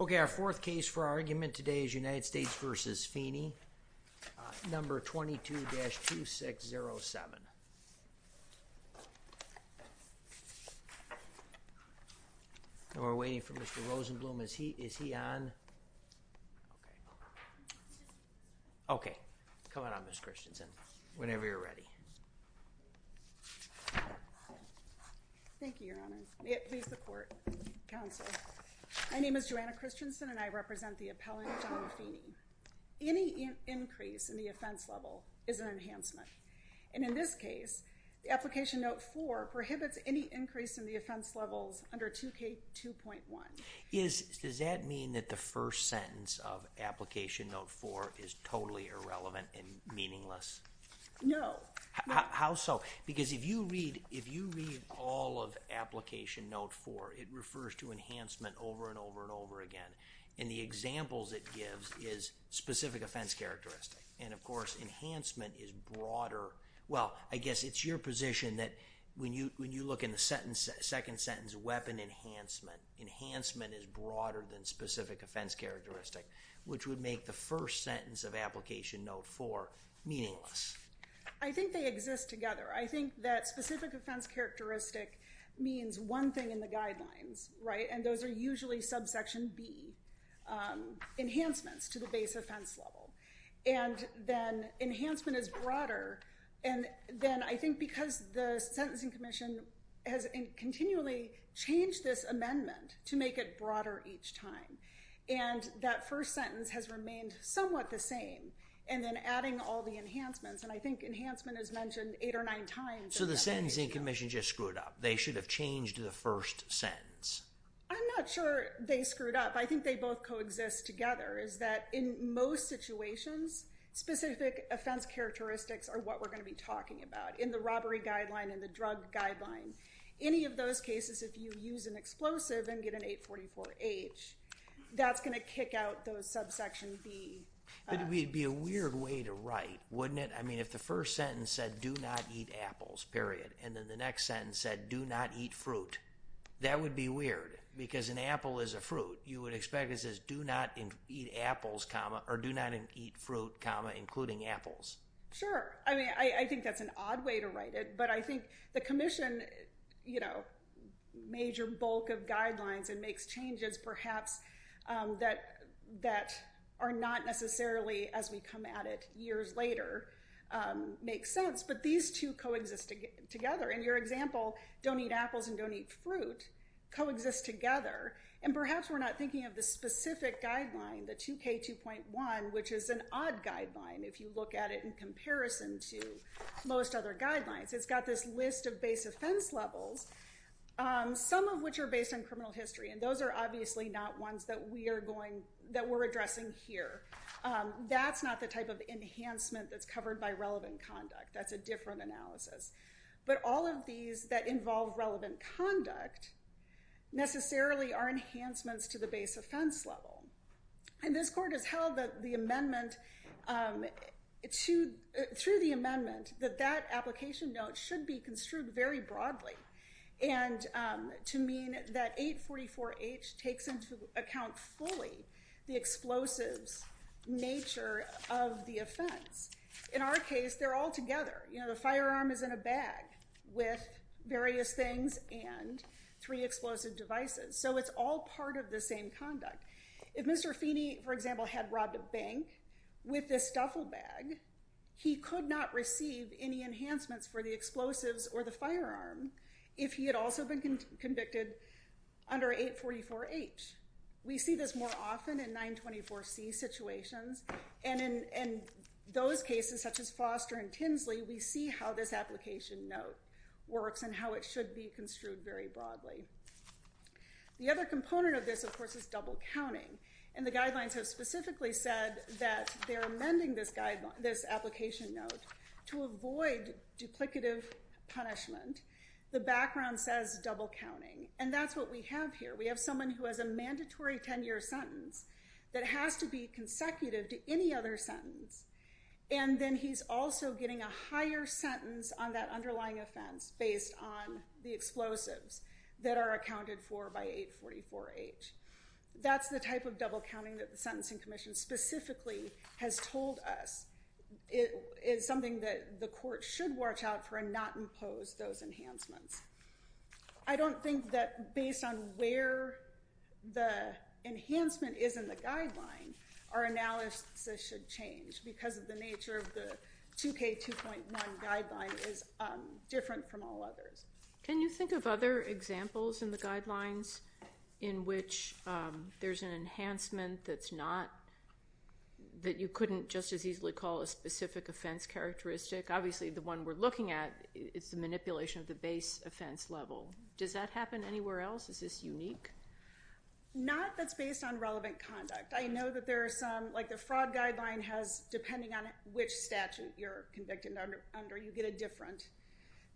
Okay, our fourth case for argument today is United States v. Feeney, number 22-2607. And we're waiting for Mr. Rosenblum, is he on? Okay, come on up Ms. Christensen, whenever you're ready. Thank you, Your Honor. Please, the court, counsel. My name is Joanna Christensen, and I represent the appellant, John Feeney. Any increase in the offense level is an enhancement, and in this case, the Application Note 4 prohibits any increase in the offense levels under 2K2.1. Does that mean that the first sentence of Application Note 4 is totally irrelevant and meaningless? No. How so? Because if you read all of Application Note 4, it refers to enhancement over and over and over again. And the examples it gives is specific offense characteristic, and of course, enhancement is broader. Well, I guess it's your position that when you look in the second sentence, weapon enhancement, enhancement is broader than specific offense characteristic, which would make the first sentence of Application Note 4 meaningless. I think they exist together. I think that specific offense characteristic means one thing in the guidelines, right? And those are usually subsection B enhancements to the base offense level. And then enhancement is broader, and then I think because the Sentencing Commission has continually changed this amendment to make it broader each time, and that first sentence has remained somewhat the same, and then adding all the enhancements, and I think enhancement is mentioned eight or nine times. So the Sentencing Commission just screwed up. They should have changed the first sentence. I'm not sure they screwed up. I think they both coexist together, is that in most situations, specific offense characteristics are what we're going to be talking about in the robbery guideline and the drug guideline. Any of those cases, if you use an explosive and get an 844-H, that's going to kick out those subsection B. But it would be a weird way to write, wouldn't it? I mean, if the first sentence said, do not eat apples, period, and then the next sentence said, do not eat fruit, that would be weird because an apple is a fruit. You would expect it says, do not eat apples, comma, or do not eat fruit, comma, including apples. Sure. I mean, I think that's an odd way to write it, but I think the commission, you know, major bulk of guidelines and makes changes perhaps that are not necessarily, as we come at it years later, makes sense. But these two coexist together. In your example, don't eat apples and don't eat fruit, coexist together. And perhaps we're not thinking of the specific guideline, the 2K2.1, which is an odd guideline, if you look at it in comparison to most other guidelines. It's got this list of base offense levels, some of which are based on criminal history, and those are obviously not ones that we're addressing here. That's not the type of enhancement that's covered by relevant conduct. That's a different analysis. But all of these that involve relevant conduct necessarily are enhancements to the base offense level. And this court has held that the amendment to, through the amendment, that that application note should be construed very broadly and to mean that 844H takes into account fully the explosives nature of the offense. In our case, they're all together. You know, the firearm is in a bag with various things and three explosive devices. So it's all part of the same conduct. If Mr. Feeney, for example, had robbed a bank with this duffel bag, he could not receive any enhancements for the explosives or the firearm if he had also been convicted under 844H. We see this more often in 924C situations. And in those cases, such as Foster and Tinsley, we see how this application note works and how it should be construed very broadly. The other component of this, of course, is double counting. And the guidelines have specifically said that they're amending this application note to avoid duplicative punishment. The background says double counting. And that's what we have here. We have someone who has a mandatory 10-year sentence that has to be consecutive to any other sentence. And then he's also getting a higher sentence on that underlying offense based on the explosives that are accounted for by 844H. That's the type of double counting that the Sentencing Commission specifically has told us. It is something that the court should watch out for and not impose those enhancements. I don't think that based on where the enhancement is in the guideline, our analysis should change because of the nature of the 2K2.1 guideline is different from all others. Can you think of other examples in the guidelines in which there's an enhancement that you couldn't just as easily call a specific offense characteristic? Obviously, the one we're looking at is the manipulation of the base offense level. Does that happen anywhere else? Is this unique? Not that's based on relevant conduct. I know that there are some, like the fraud guideline has, depending on which statute you're convicted under, you get a different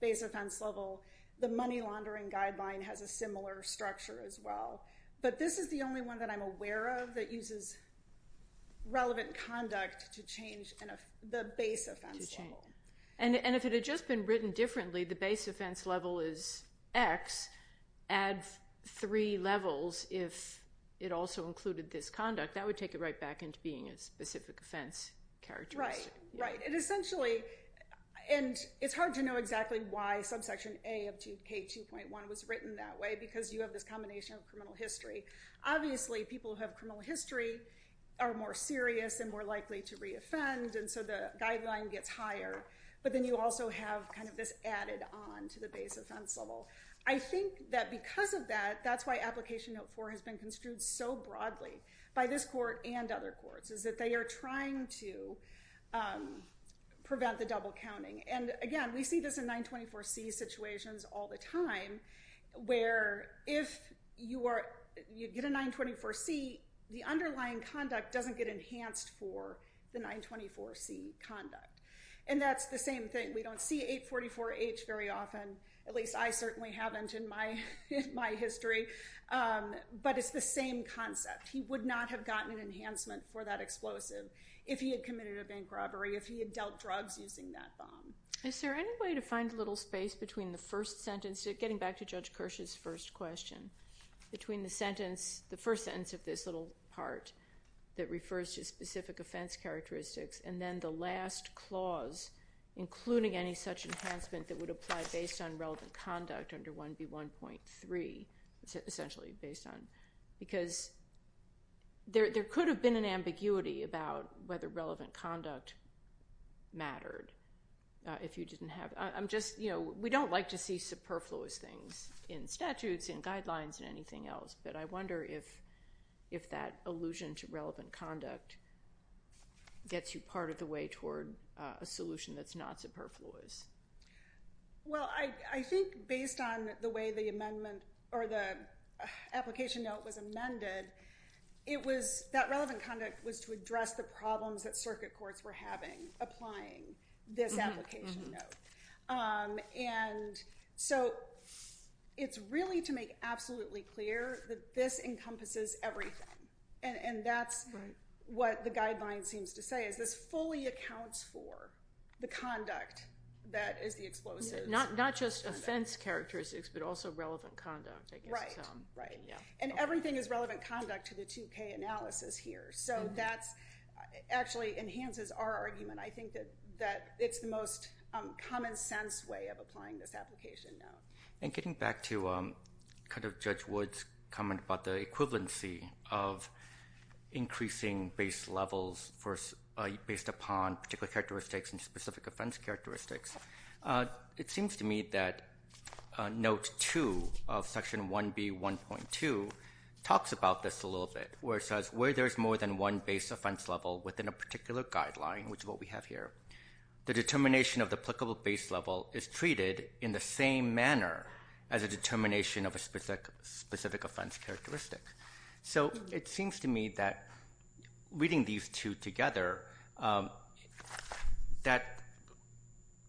base offense level. The money laundering guideline has a similar structure as well. But this is the only one that I'm aware of that uses relevant conduct to change the base offense level. And if it had just been written differently, the base offense level is X, add three levels, if it also included this conduct, that would take it right back into being a specific offense characteristic. Right, right. And it's hard to know exactly why subsection A of 2K2.1 was written that way, because you have this combination of criminal history. Obviously, people who have criminal history are more serious and more likely to re-offend, and so the guideline gets higher. But then you also have kind of this added on to the base offense level. I think that because of that, that's why Application Note 4 has been construed so broadly by this court and other courts, is that they are trying to prevent the double counting. And, again, we see this in 924C situations all the time, where if you get a 924C, the underlying conduct doesn't get enhanced for the 924C conduct. And that's the same thing. We don't see 844H very often, at least I certainly haven't in my history, but it's the same concept. He would not have gotten an enhancement for that explosive if he had committed a bank robbery, if he had dealt drugs using that bomb. Is there any way to find a little space between the first sentence, getting back to Judge Kirsch's first question, between the first sentence of this little part that refers to specific offense characteristics and then the last clause including any such enhancement that would apply based on relevant conduct under 1B1.3, because there could have been an ambiguity about whether relevant conduct mattered. We don't like to see superfluous things in statutes and guidelines and anything else, but I wonder if that allusion to relevant conduct gets you part of the way toward a solution that's not superfluous. Well, I think based on the way the application note was amended, that relevant conduct was to address the problems that circuit courts were having applying this application note. And so it's really to make absolutely clear that this encompasses everything, and that's what the guideline seems to say, is this fully accounts for the conduct that is the explosive. Not just offense characteristics, but also relevant conduct, I guess. Right, and everything is relevant conduct to the 2K analysis here. So that actually enhances our argument. I think that it's the most common sense way of applying this application note. And getting back to Judge Wood's comment about the equivalency of increasing base levels based upon particular characteristics and specific offense characteristics, it seems to me that Note 2 of Section 1B1.2 talks about this a little bit, where it says where there's more than one base offense level within a particular guideline, which is what we have here, the determination of the applicable base level is treated in the same manner as a determination of a specific offense characteristic. So it seems to me that reading these two together, that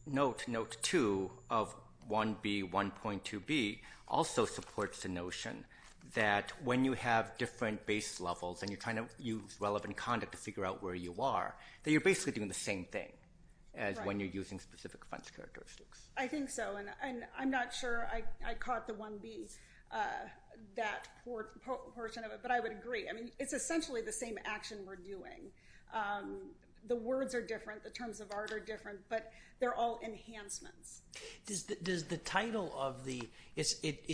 Note 2 of 1B1.2b also supports the notion that when you have different base levels and you're trying to use relevant conduct to figure out where you are, that you're basically doing the same thing as when you're using specific offense characteristics. I think so, and I'm not sure I caught the 1B, that portion of it, but I would agree. It's essentially the same action we're doing. The words are different, the terms of art are different, but they're all enhancements. It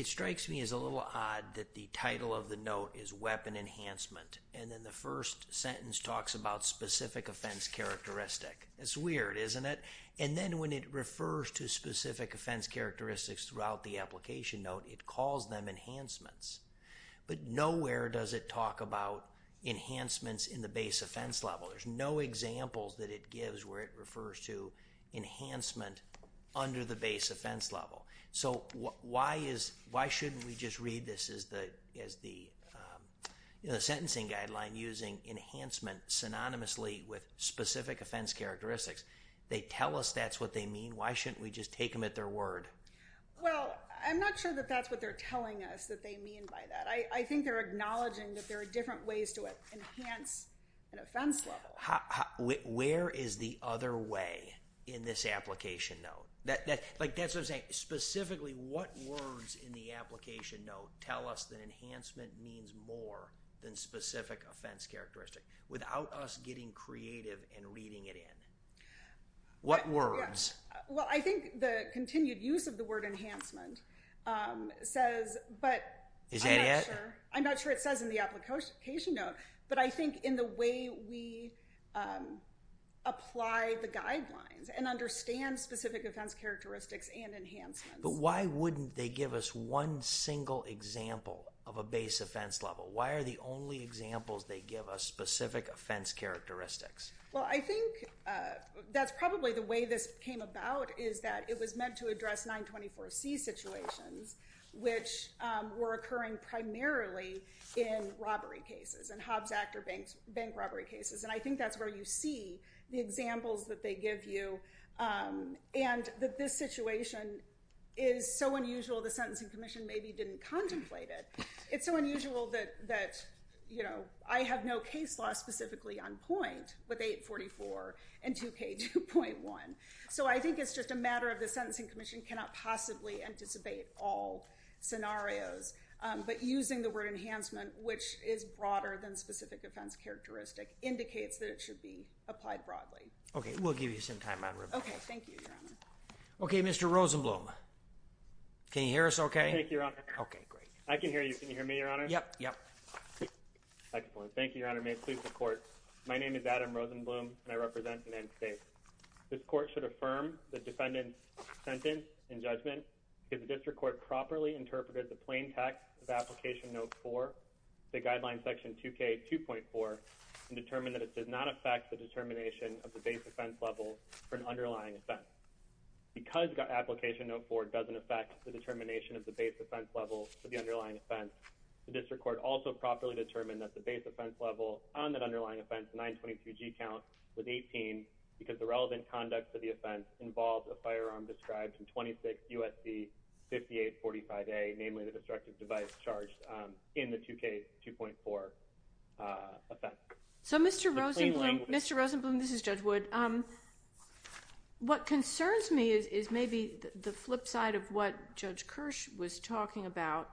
strikes me as a little odd that the title of the note is Weapon Enhancement, and then the first sentence talks about specific offense characteristic. It's weird, isn't it? And then when it refers to specific offense characteristics throughout the application note, it calls them enhancements. But nowhere does it talk about enhancements in the base offense level. There's no examples that it gives where it refers to enhancement under the base offense level. So why shouldn't we just read this as the sentencing guideline using enhancement synonymously with specific offense characteristics? They tell us that's what they mean. Why shouldn't we just take them at their word? Well, I'm not sure that that's what they're telling us that they mean by that. I think they're acknowledging that there are different ways to enhance an offense level. Where is the other way in this application note? That's what I'm saying. Specifically, what words in the application note tell us that enhancement means more than specific offense characteristic without us getting creative and reading it in? What words? Well, I think the continued use of the word enhancement says, but I'm not sure. Is that it? I'm not sure it says in the application note, but I think in the way we apply the guidelines and understand specific offense characteristics and enhancements. But why wouldn't they give us one single example of a base offense level? Why are the only examples they give us specific offense characteristics? Well, I think that's probably the way this came about is that it was meant to address 924C situations, which were occurring primarily in robbery cases, in Hobbs Act or bank robbery cases. And I think that's where you see the examples that they give you, and that this situation is so unusual the Sentencing Commission maybe didn't contemplate it. It's so unusual that I have no case law specifically on point with 844 and 2K2.1. So I think it's just a matter of the Sentencing Commission cannot possibly anticipate all scenarios. But using the word enhancement, which is broader than specific offense characteristic, indicates that it should be applied broadly. Okay, we'll give you some time on review. Okay, thank you, Your Honor. Okay, Mr. Rosenblum. Can you hear us okay? I can hear you. Can you hear me, Your Honor? Yep, yep. Excellent. Thank you, Your Honor. May it please the Court. My name is Adam Rosenblum, and I represent the United States. This Court should affirm the defendant's sentence and judgment if the district court properly interpreted the plain text of Application Note 4, the Guideline Section 2K2.4, and determined that it did not affect the determination of the base offense level for an underlying offense. Because Application Note 4 doesn't affect the determination of the base offense level for the underlying offense, the district court also properly determined that the base offense level on that underlying offense, the 923G count, was 18 because the relevant conduct of the offense involved a firearm described in 26 U.S.C. 5845A, namely the destructive device charged in the 2K2.4 offense. So, Mr. Rosenblum, this is Judge Wood. What concerns me is maybe the flip side of what Judge Kirsch was talking about.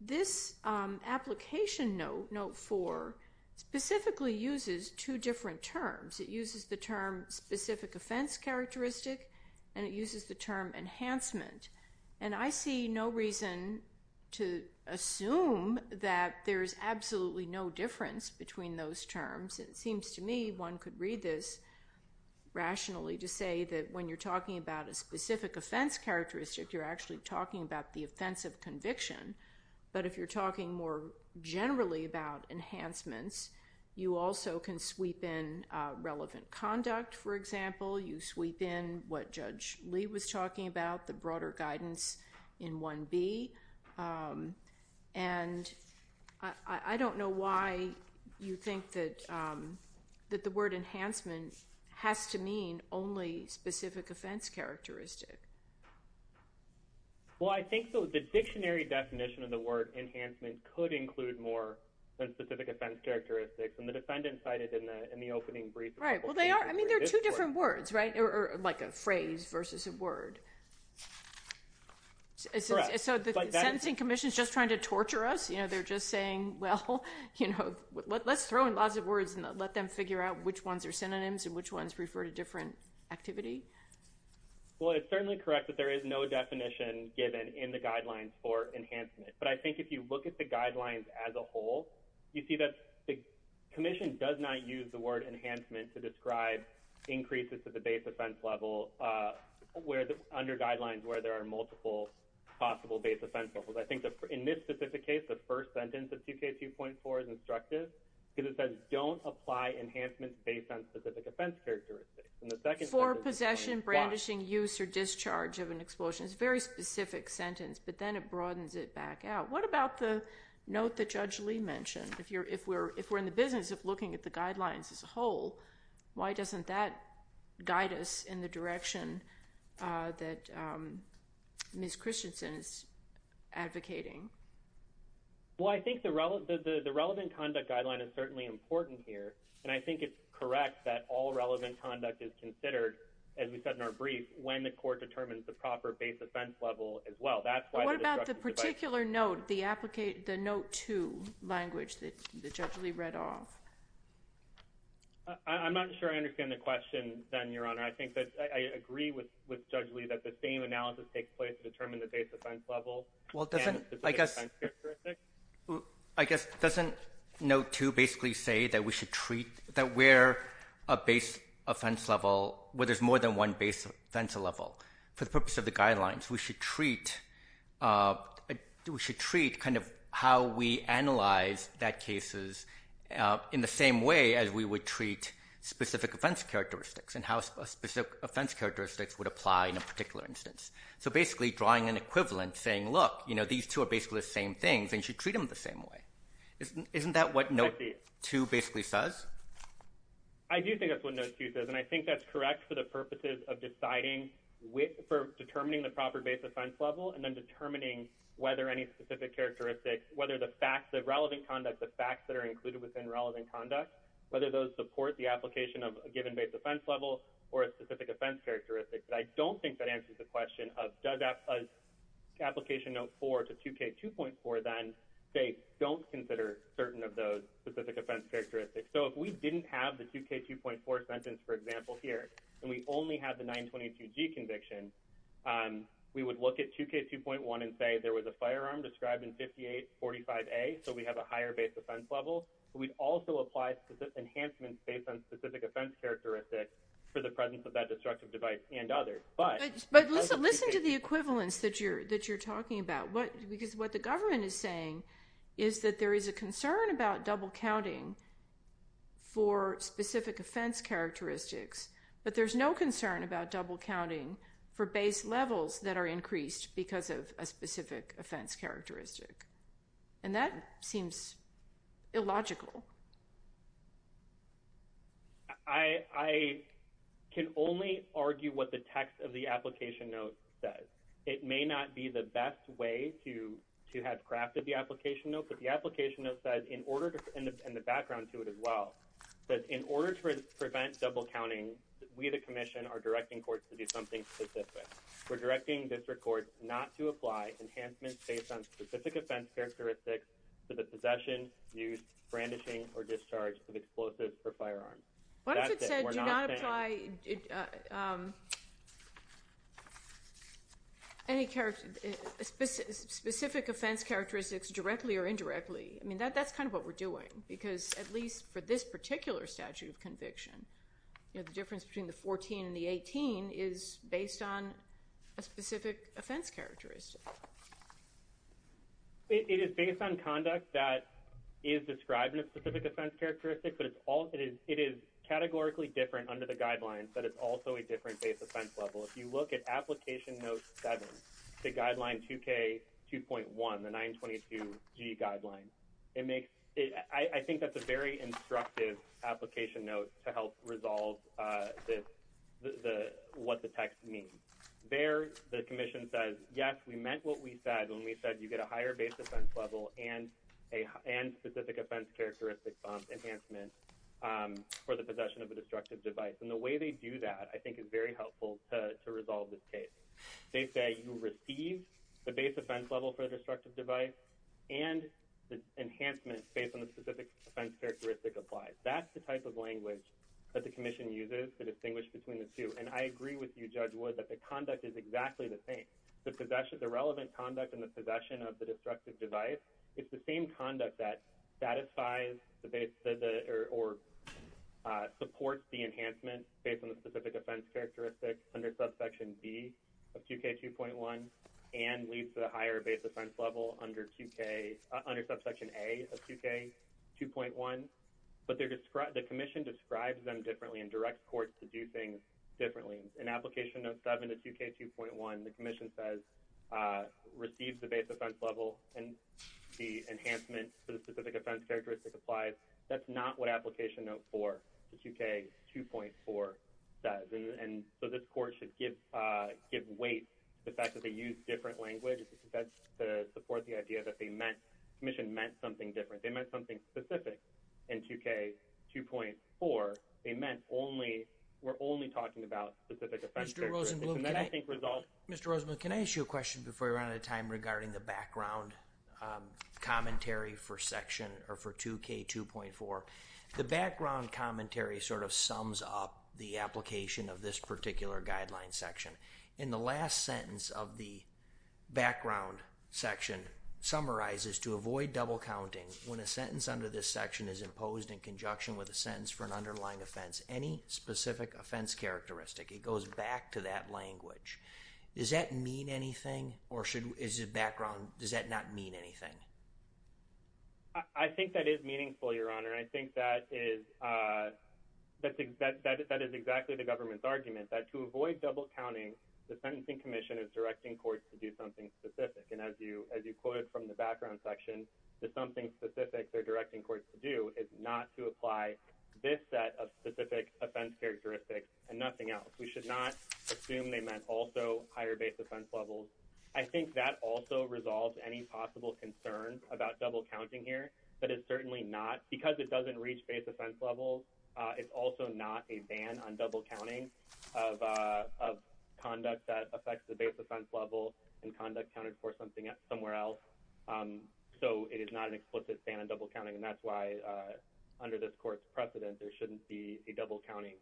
This Application Note, Note 4, specifically uses two different terms. It uses the term specific offense characteristic, and it uses the term enhancement. And I see no reason to assume that there's absolutely no difference between those terms. It seems to me one could read this rationally to say that when you're talking about a specific offense characteristic, you're actually talking about the offense of conviction. But if you're talking more generally about enhancements, you also can sweep in relevant conduct, for example. You sweep in what Judge Lee was talking about, the broader guidance in 1B. And I don't know why you think that the word enhancement has to mean only specific offense characteristic. Well, I think the dictionary definition of the word enhancement could include more than specific offense characteristics. And the defendant cited in the opening brief a couple of cases where it is more. Right. Well, they are. I mean, they're two different words, right? Or like a phrase versus a word. Correct. So the sentencing commission is just trying to torture us. You know, they're just saying, well, you know, let's throw in lots of words and let them figure out which ones are synonyms and which ones refer to different activity. Well, it's certainly correct that there is no definition given in the guidelines for enhancement. But I think if you look at the guidelines as a whole, you see that the commission does not use the word enhancement to describe increases to the base offense level under guidelines where there are multiple possible base offense levels. I think in this specific case, the first sentence of 2K2.4 is instructive because it says don't apply enhancements based on specific offense characteristics. For possession, brandishing, use, or discharge of an explosion. It's a very specific sentence, but then it broadens it back out. What about the note that Judge Lee mentioned? If we're in the business of looking at the guidelines as a whole, why doesn't that guide us in the direction that Ms. Christensen is advocating? Well, I think the relevant conduct guideline is certainly important here, and I think it's correct that all relevant conduct is considered, as we said in our brief, What about the particular note, the note 2 language that Judge Lee read off? I'm not sure I understand the question then, Your Honor. I think that I agree with Judge Lee that the same analysis takes place to determine the base offense level and specific offense characteristics. I guess doesn't note 2 basically say that we should treat, that we're a base offense level, where there's more than one base offense level? For the purpose of the guidelines, we should treat kind of how we analyze that cases in the same way as we would treat specific offense characteristics and how specific offense characteristics would apply in a particular instance. So basically drawing an equivalent saying, look, these two are basically the same things, and you should treat them the same way. Isn't that what note 2 basically says? I do think that's what note 2 says, and I think that's correct for the purposes of deciding, for determining the proper base offense level and then determining whether any specific characteristics, whether the facts of relevant conduct, the facts that are included within relevant conduct, whether those support the application of a given base offense level or a specific offense characteristic. But I don't think that answers the question of does application note 4 to 2K2.4 then say, don't consider certain of those specific offense characteristics. So if we didn't have the 2K2.4 sentence, for example, here, and we only have the 922G conviction, we would look at 2K2.1 and say there was a firearm described in 5845A, so we have a higher base offense level, but we'd also apply specific enhancements based on specific offense characteristics for the presence of that destructive device and others. But listen to the equivalence that you're talking about, because what the government is saying is that there is a concern about double counting for specific offense characteristics, but there's no concern about double counting for base levels that are increased because of a specific offense characteristic. And that seems illogical. I can only argue what the text of the application note says. It may not be the best way to have crafted the application note, but the application note says, and the background to it as well, that in order to prevent double counting, we the commission are directing courts to do something specific. We're directing district courts not to apply enhancements based on specific offense characteristics to the possession, use, brandishing, or discharge of explosives or firearms. What if it said do not apply any specific offense characteristics directly or indirectly? I mean, that's kind of what we're doing, because at least for this particular statute of conviction, the difference between the 14 and the 18 is based on a specific offense characteristic. It is based on conduct that is described in a specific offense characteristic, but it is categorically different under the guidelines, but it's also a different base offense level. If you look at application note seven, the guideline 2K2.1, the 922G guideline, I think that's a very instructive application note to help resolve what the text means. There the commission says, yes, we meant what we said when we said you get a higher base offense level and specific offense characteristic enhancement for the possession of a destructive device, and the way they do that I think is very helpful to resolve this case. They say you receive the base offense level for a destructive device and the enhancement based on the specific offense characteristic applies. That's the type of language that the commission uses to distinguish between the two, and I agree with you, Judge Wood, that the conduct is exactly the same. The relevant conduct in the possession of the destructive device is the same conduct that satisfies or supports the enhancement based on the specific offense characteristic under subsection B of 2K2.1 and leads to a higher base offense level under subsection A of 2K2.1, but the commission describes them differently and directs courts to do things differently. In application note 7 of 2K2.1, the commission says receive the base offense level and the enhancement for the specific offense characteristic applies. That's not what application note 4 of 2K2.4 says, and so this court should give weight to the fact that they use different language to support the idea that the commission meant something different. They meant something specific in 2K2.4. They meant we're only talking about specific offense characteristics. Mr. Rosenblum, can I ask you a question before we run out of time regarding the background commentary for 2K2.4? The background commentary sort of sums up the application of this particular guideline section. In the last sentence of the background section, it summarizes to avoid double counting when a sentence under this section is imposed in conjunction with a sentence for an underlying offense, any specific offense characteristic. It goes back to that language. Does that mean anything or does that not mean anything? I think that is meaningful, Your Honor. I think that is exactly the government's argument that to avoid double counting, the Sentencing Commission is directing courts to do something specific, and as you quoted from the background section, that something specific they're directing courts to do is not to apply this set of specific offense characteristics and nothing else. We should not assume they meant also higher base offense levels. I think that also resolves any possible concern about double counting here, but it's certainly not, because it doesn't reach base offense levels, it's also not a ban on double counting of conduct that affects the base offense level and conduct counted for somewhere else. So it is not an explicit ban on double counting, and that's why under this court's precedent there shouldn't be a double counting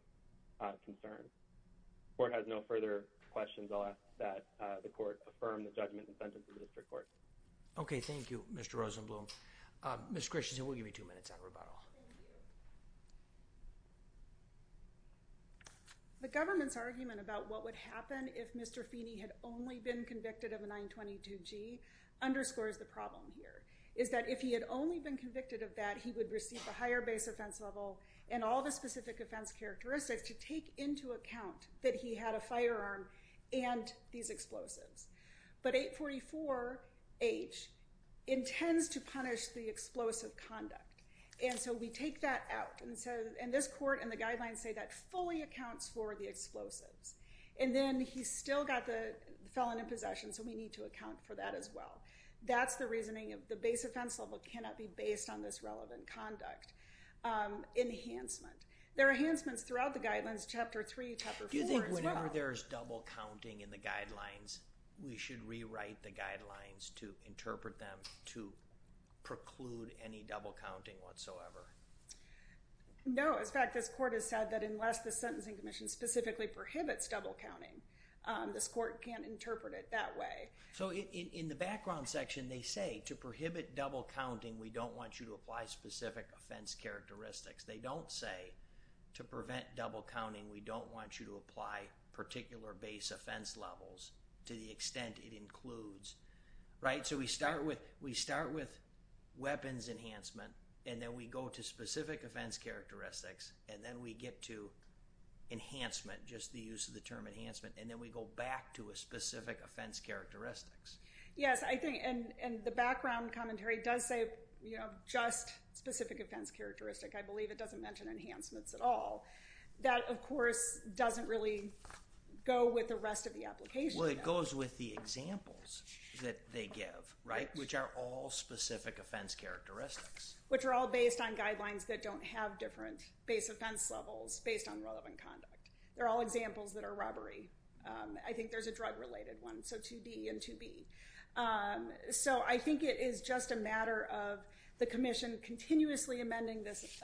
concern. If the court has no further questions, I'll ask that the court affirm the judgment and sentence of the district court. Okay, thank you, Mr. Rosenblum. Ms. Christensen, we'll give you two minutes on rebuttal. The government's argument about what would happen if Mr. Feeney had only been convicted of a 922G underscores the problem here, is that if he had only been convicted of that, he would receive a higher base offense level and all the specific offense characteristics to take into account that he had a firearm and these explosives. But 844H intends to punish the explosive conduct, and so we take that out. And this court and the guidelines say that fully accounts for the explosives. And then he still got the felon in possession, so we need to account for that as well. That's the reasoning of the base offense level cannot be based on this relevant conduct. Enhancement. There are enhancements throughout the guidelines, Chapter 3, Chapter 4 as well. Do you think whenever there's double counting in the guidelines, we should rewrite the guidelines to interpret them to preclude any double counting whatsoever? No. In fact, this court has said that unless the Sentencing Commission specifically prohibits double counting, this court can't interpret it that way. So in the background section, they say to prohibit double counting, we don't want you to apply specific offense characteristics. They don't say to prevent double counting, we don't want you to apply particular base offense levels to the extent it includes, right? So we start with weapons enhancement, and then we go to specific offense characteristics, and then we get to enhancement, just the use of the term enhancement, and then we go back to a specific offense characteristics. Yes, and the background commentary does say just specific offense characteristic. I believe it doesn't mention enhancements at all. That, of course, doesn't really go with the rest of the application. Well, it goes with the examples that they give, right, which are all specific offense characteristics. Which are all based on guidelines that don't have different base offense levels based on relevant conduct. They're all examples that are robbery. I think there's a drug-related one, so 2D and 2B. So I think it is just a matter of the commission continuously amending this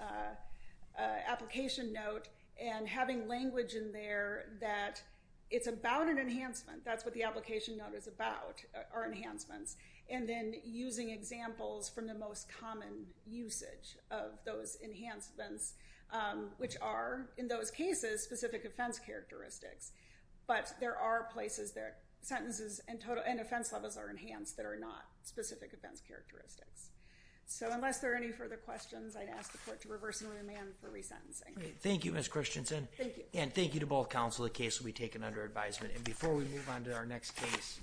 application note and having language in there that it's about an enhancement. That's what the application note is about, are enhancements, and then using examples from the most common usage of those enhancements, which are, in those cases, specific offense characteristics. But there are places that sentences and offense levels are enhanced that are not specific offense characteristics. So unless there are any further questions, I'd ask the court to reverse and remand for resentencing. Thank you, Ms. Christensen. Thank you. And thank you to both counsel. The case will be taken under advisement. And before we move on to our next case.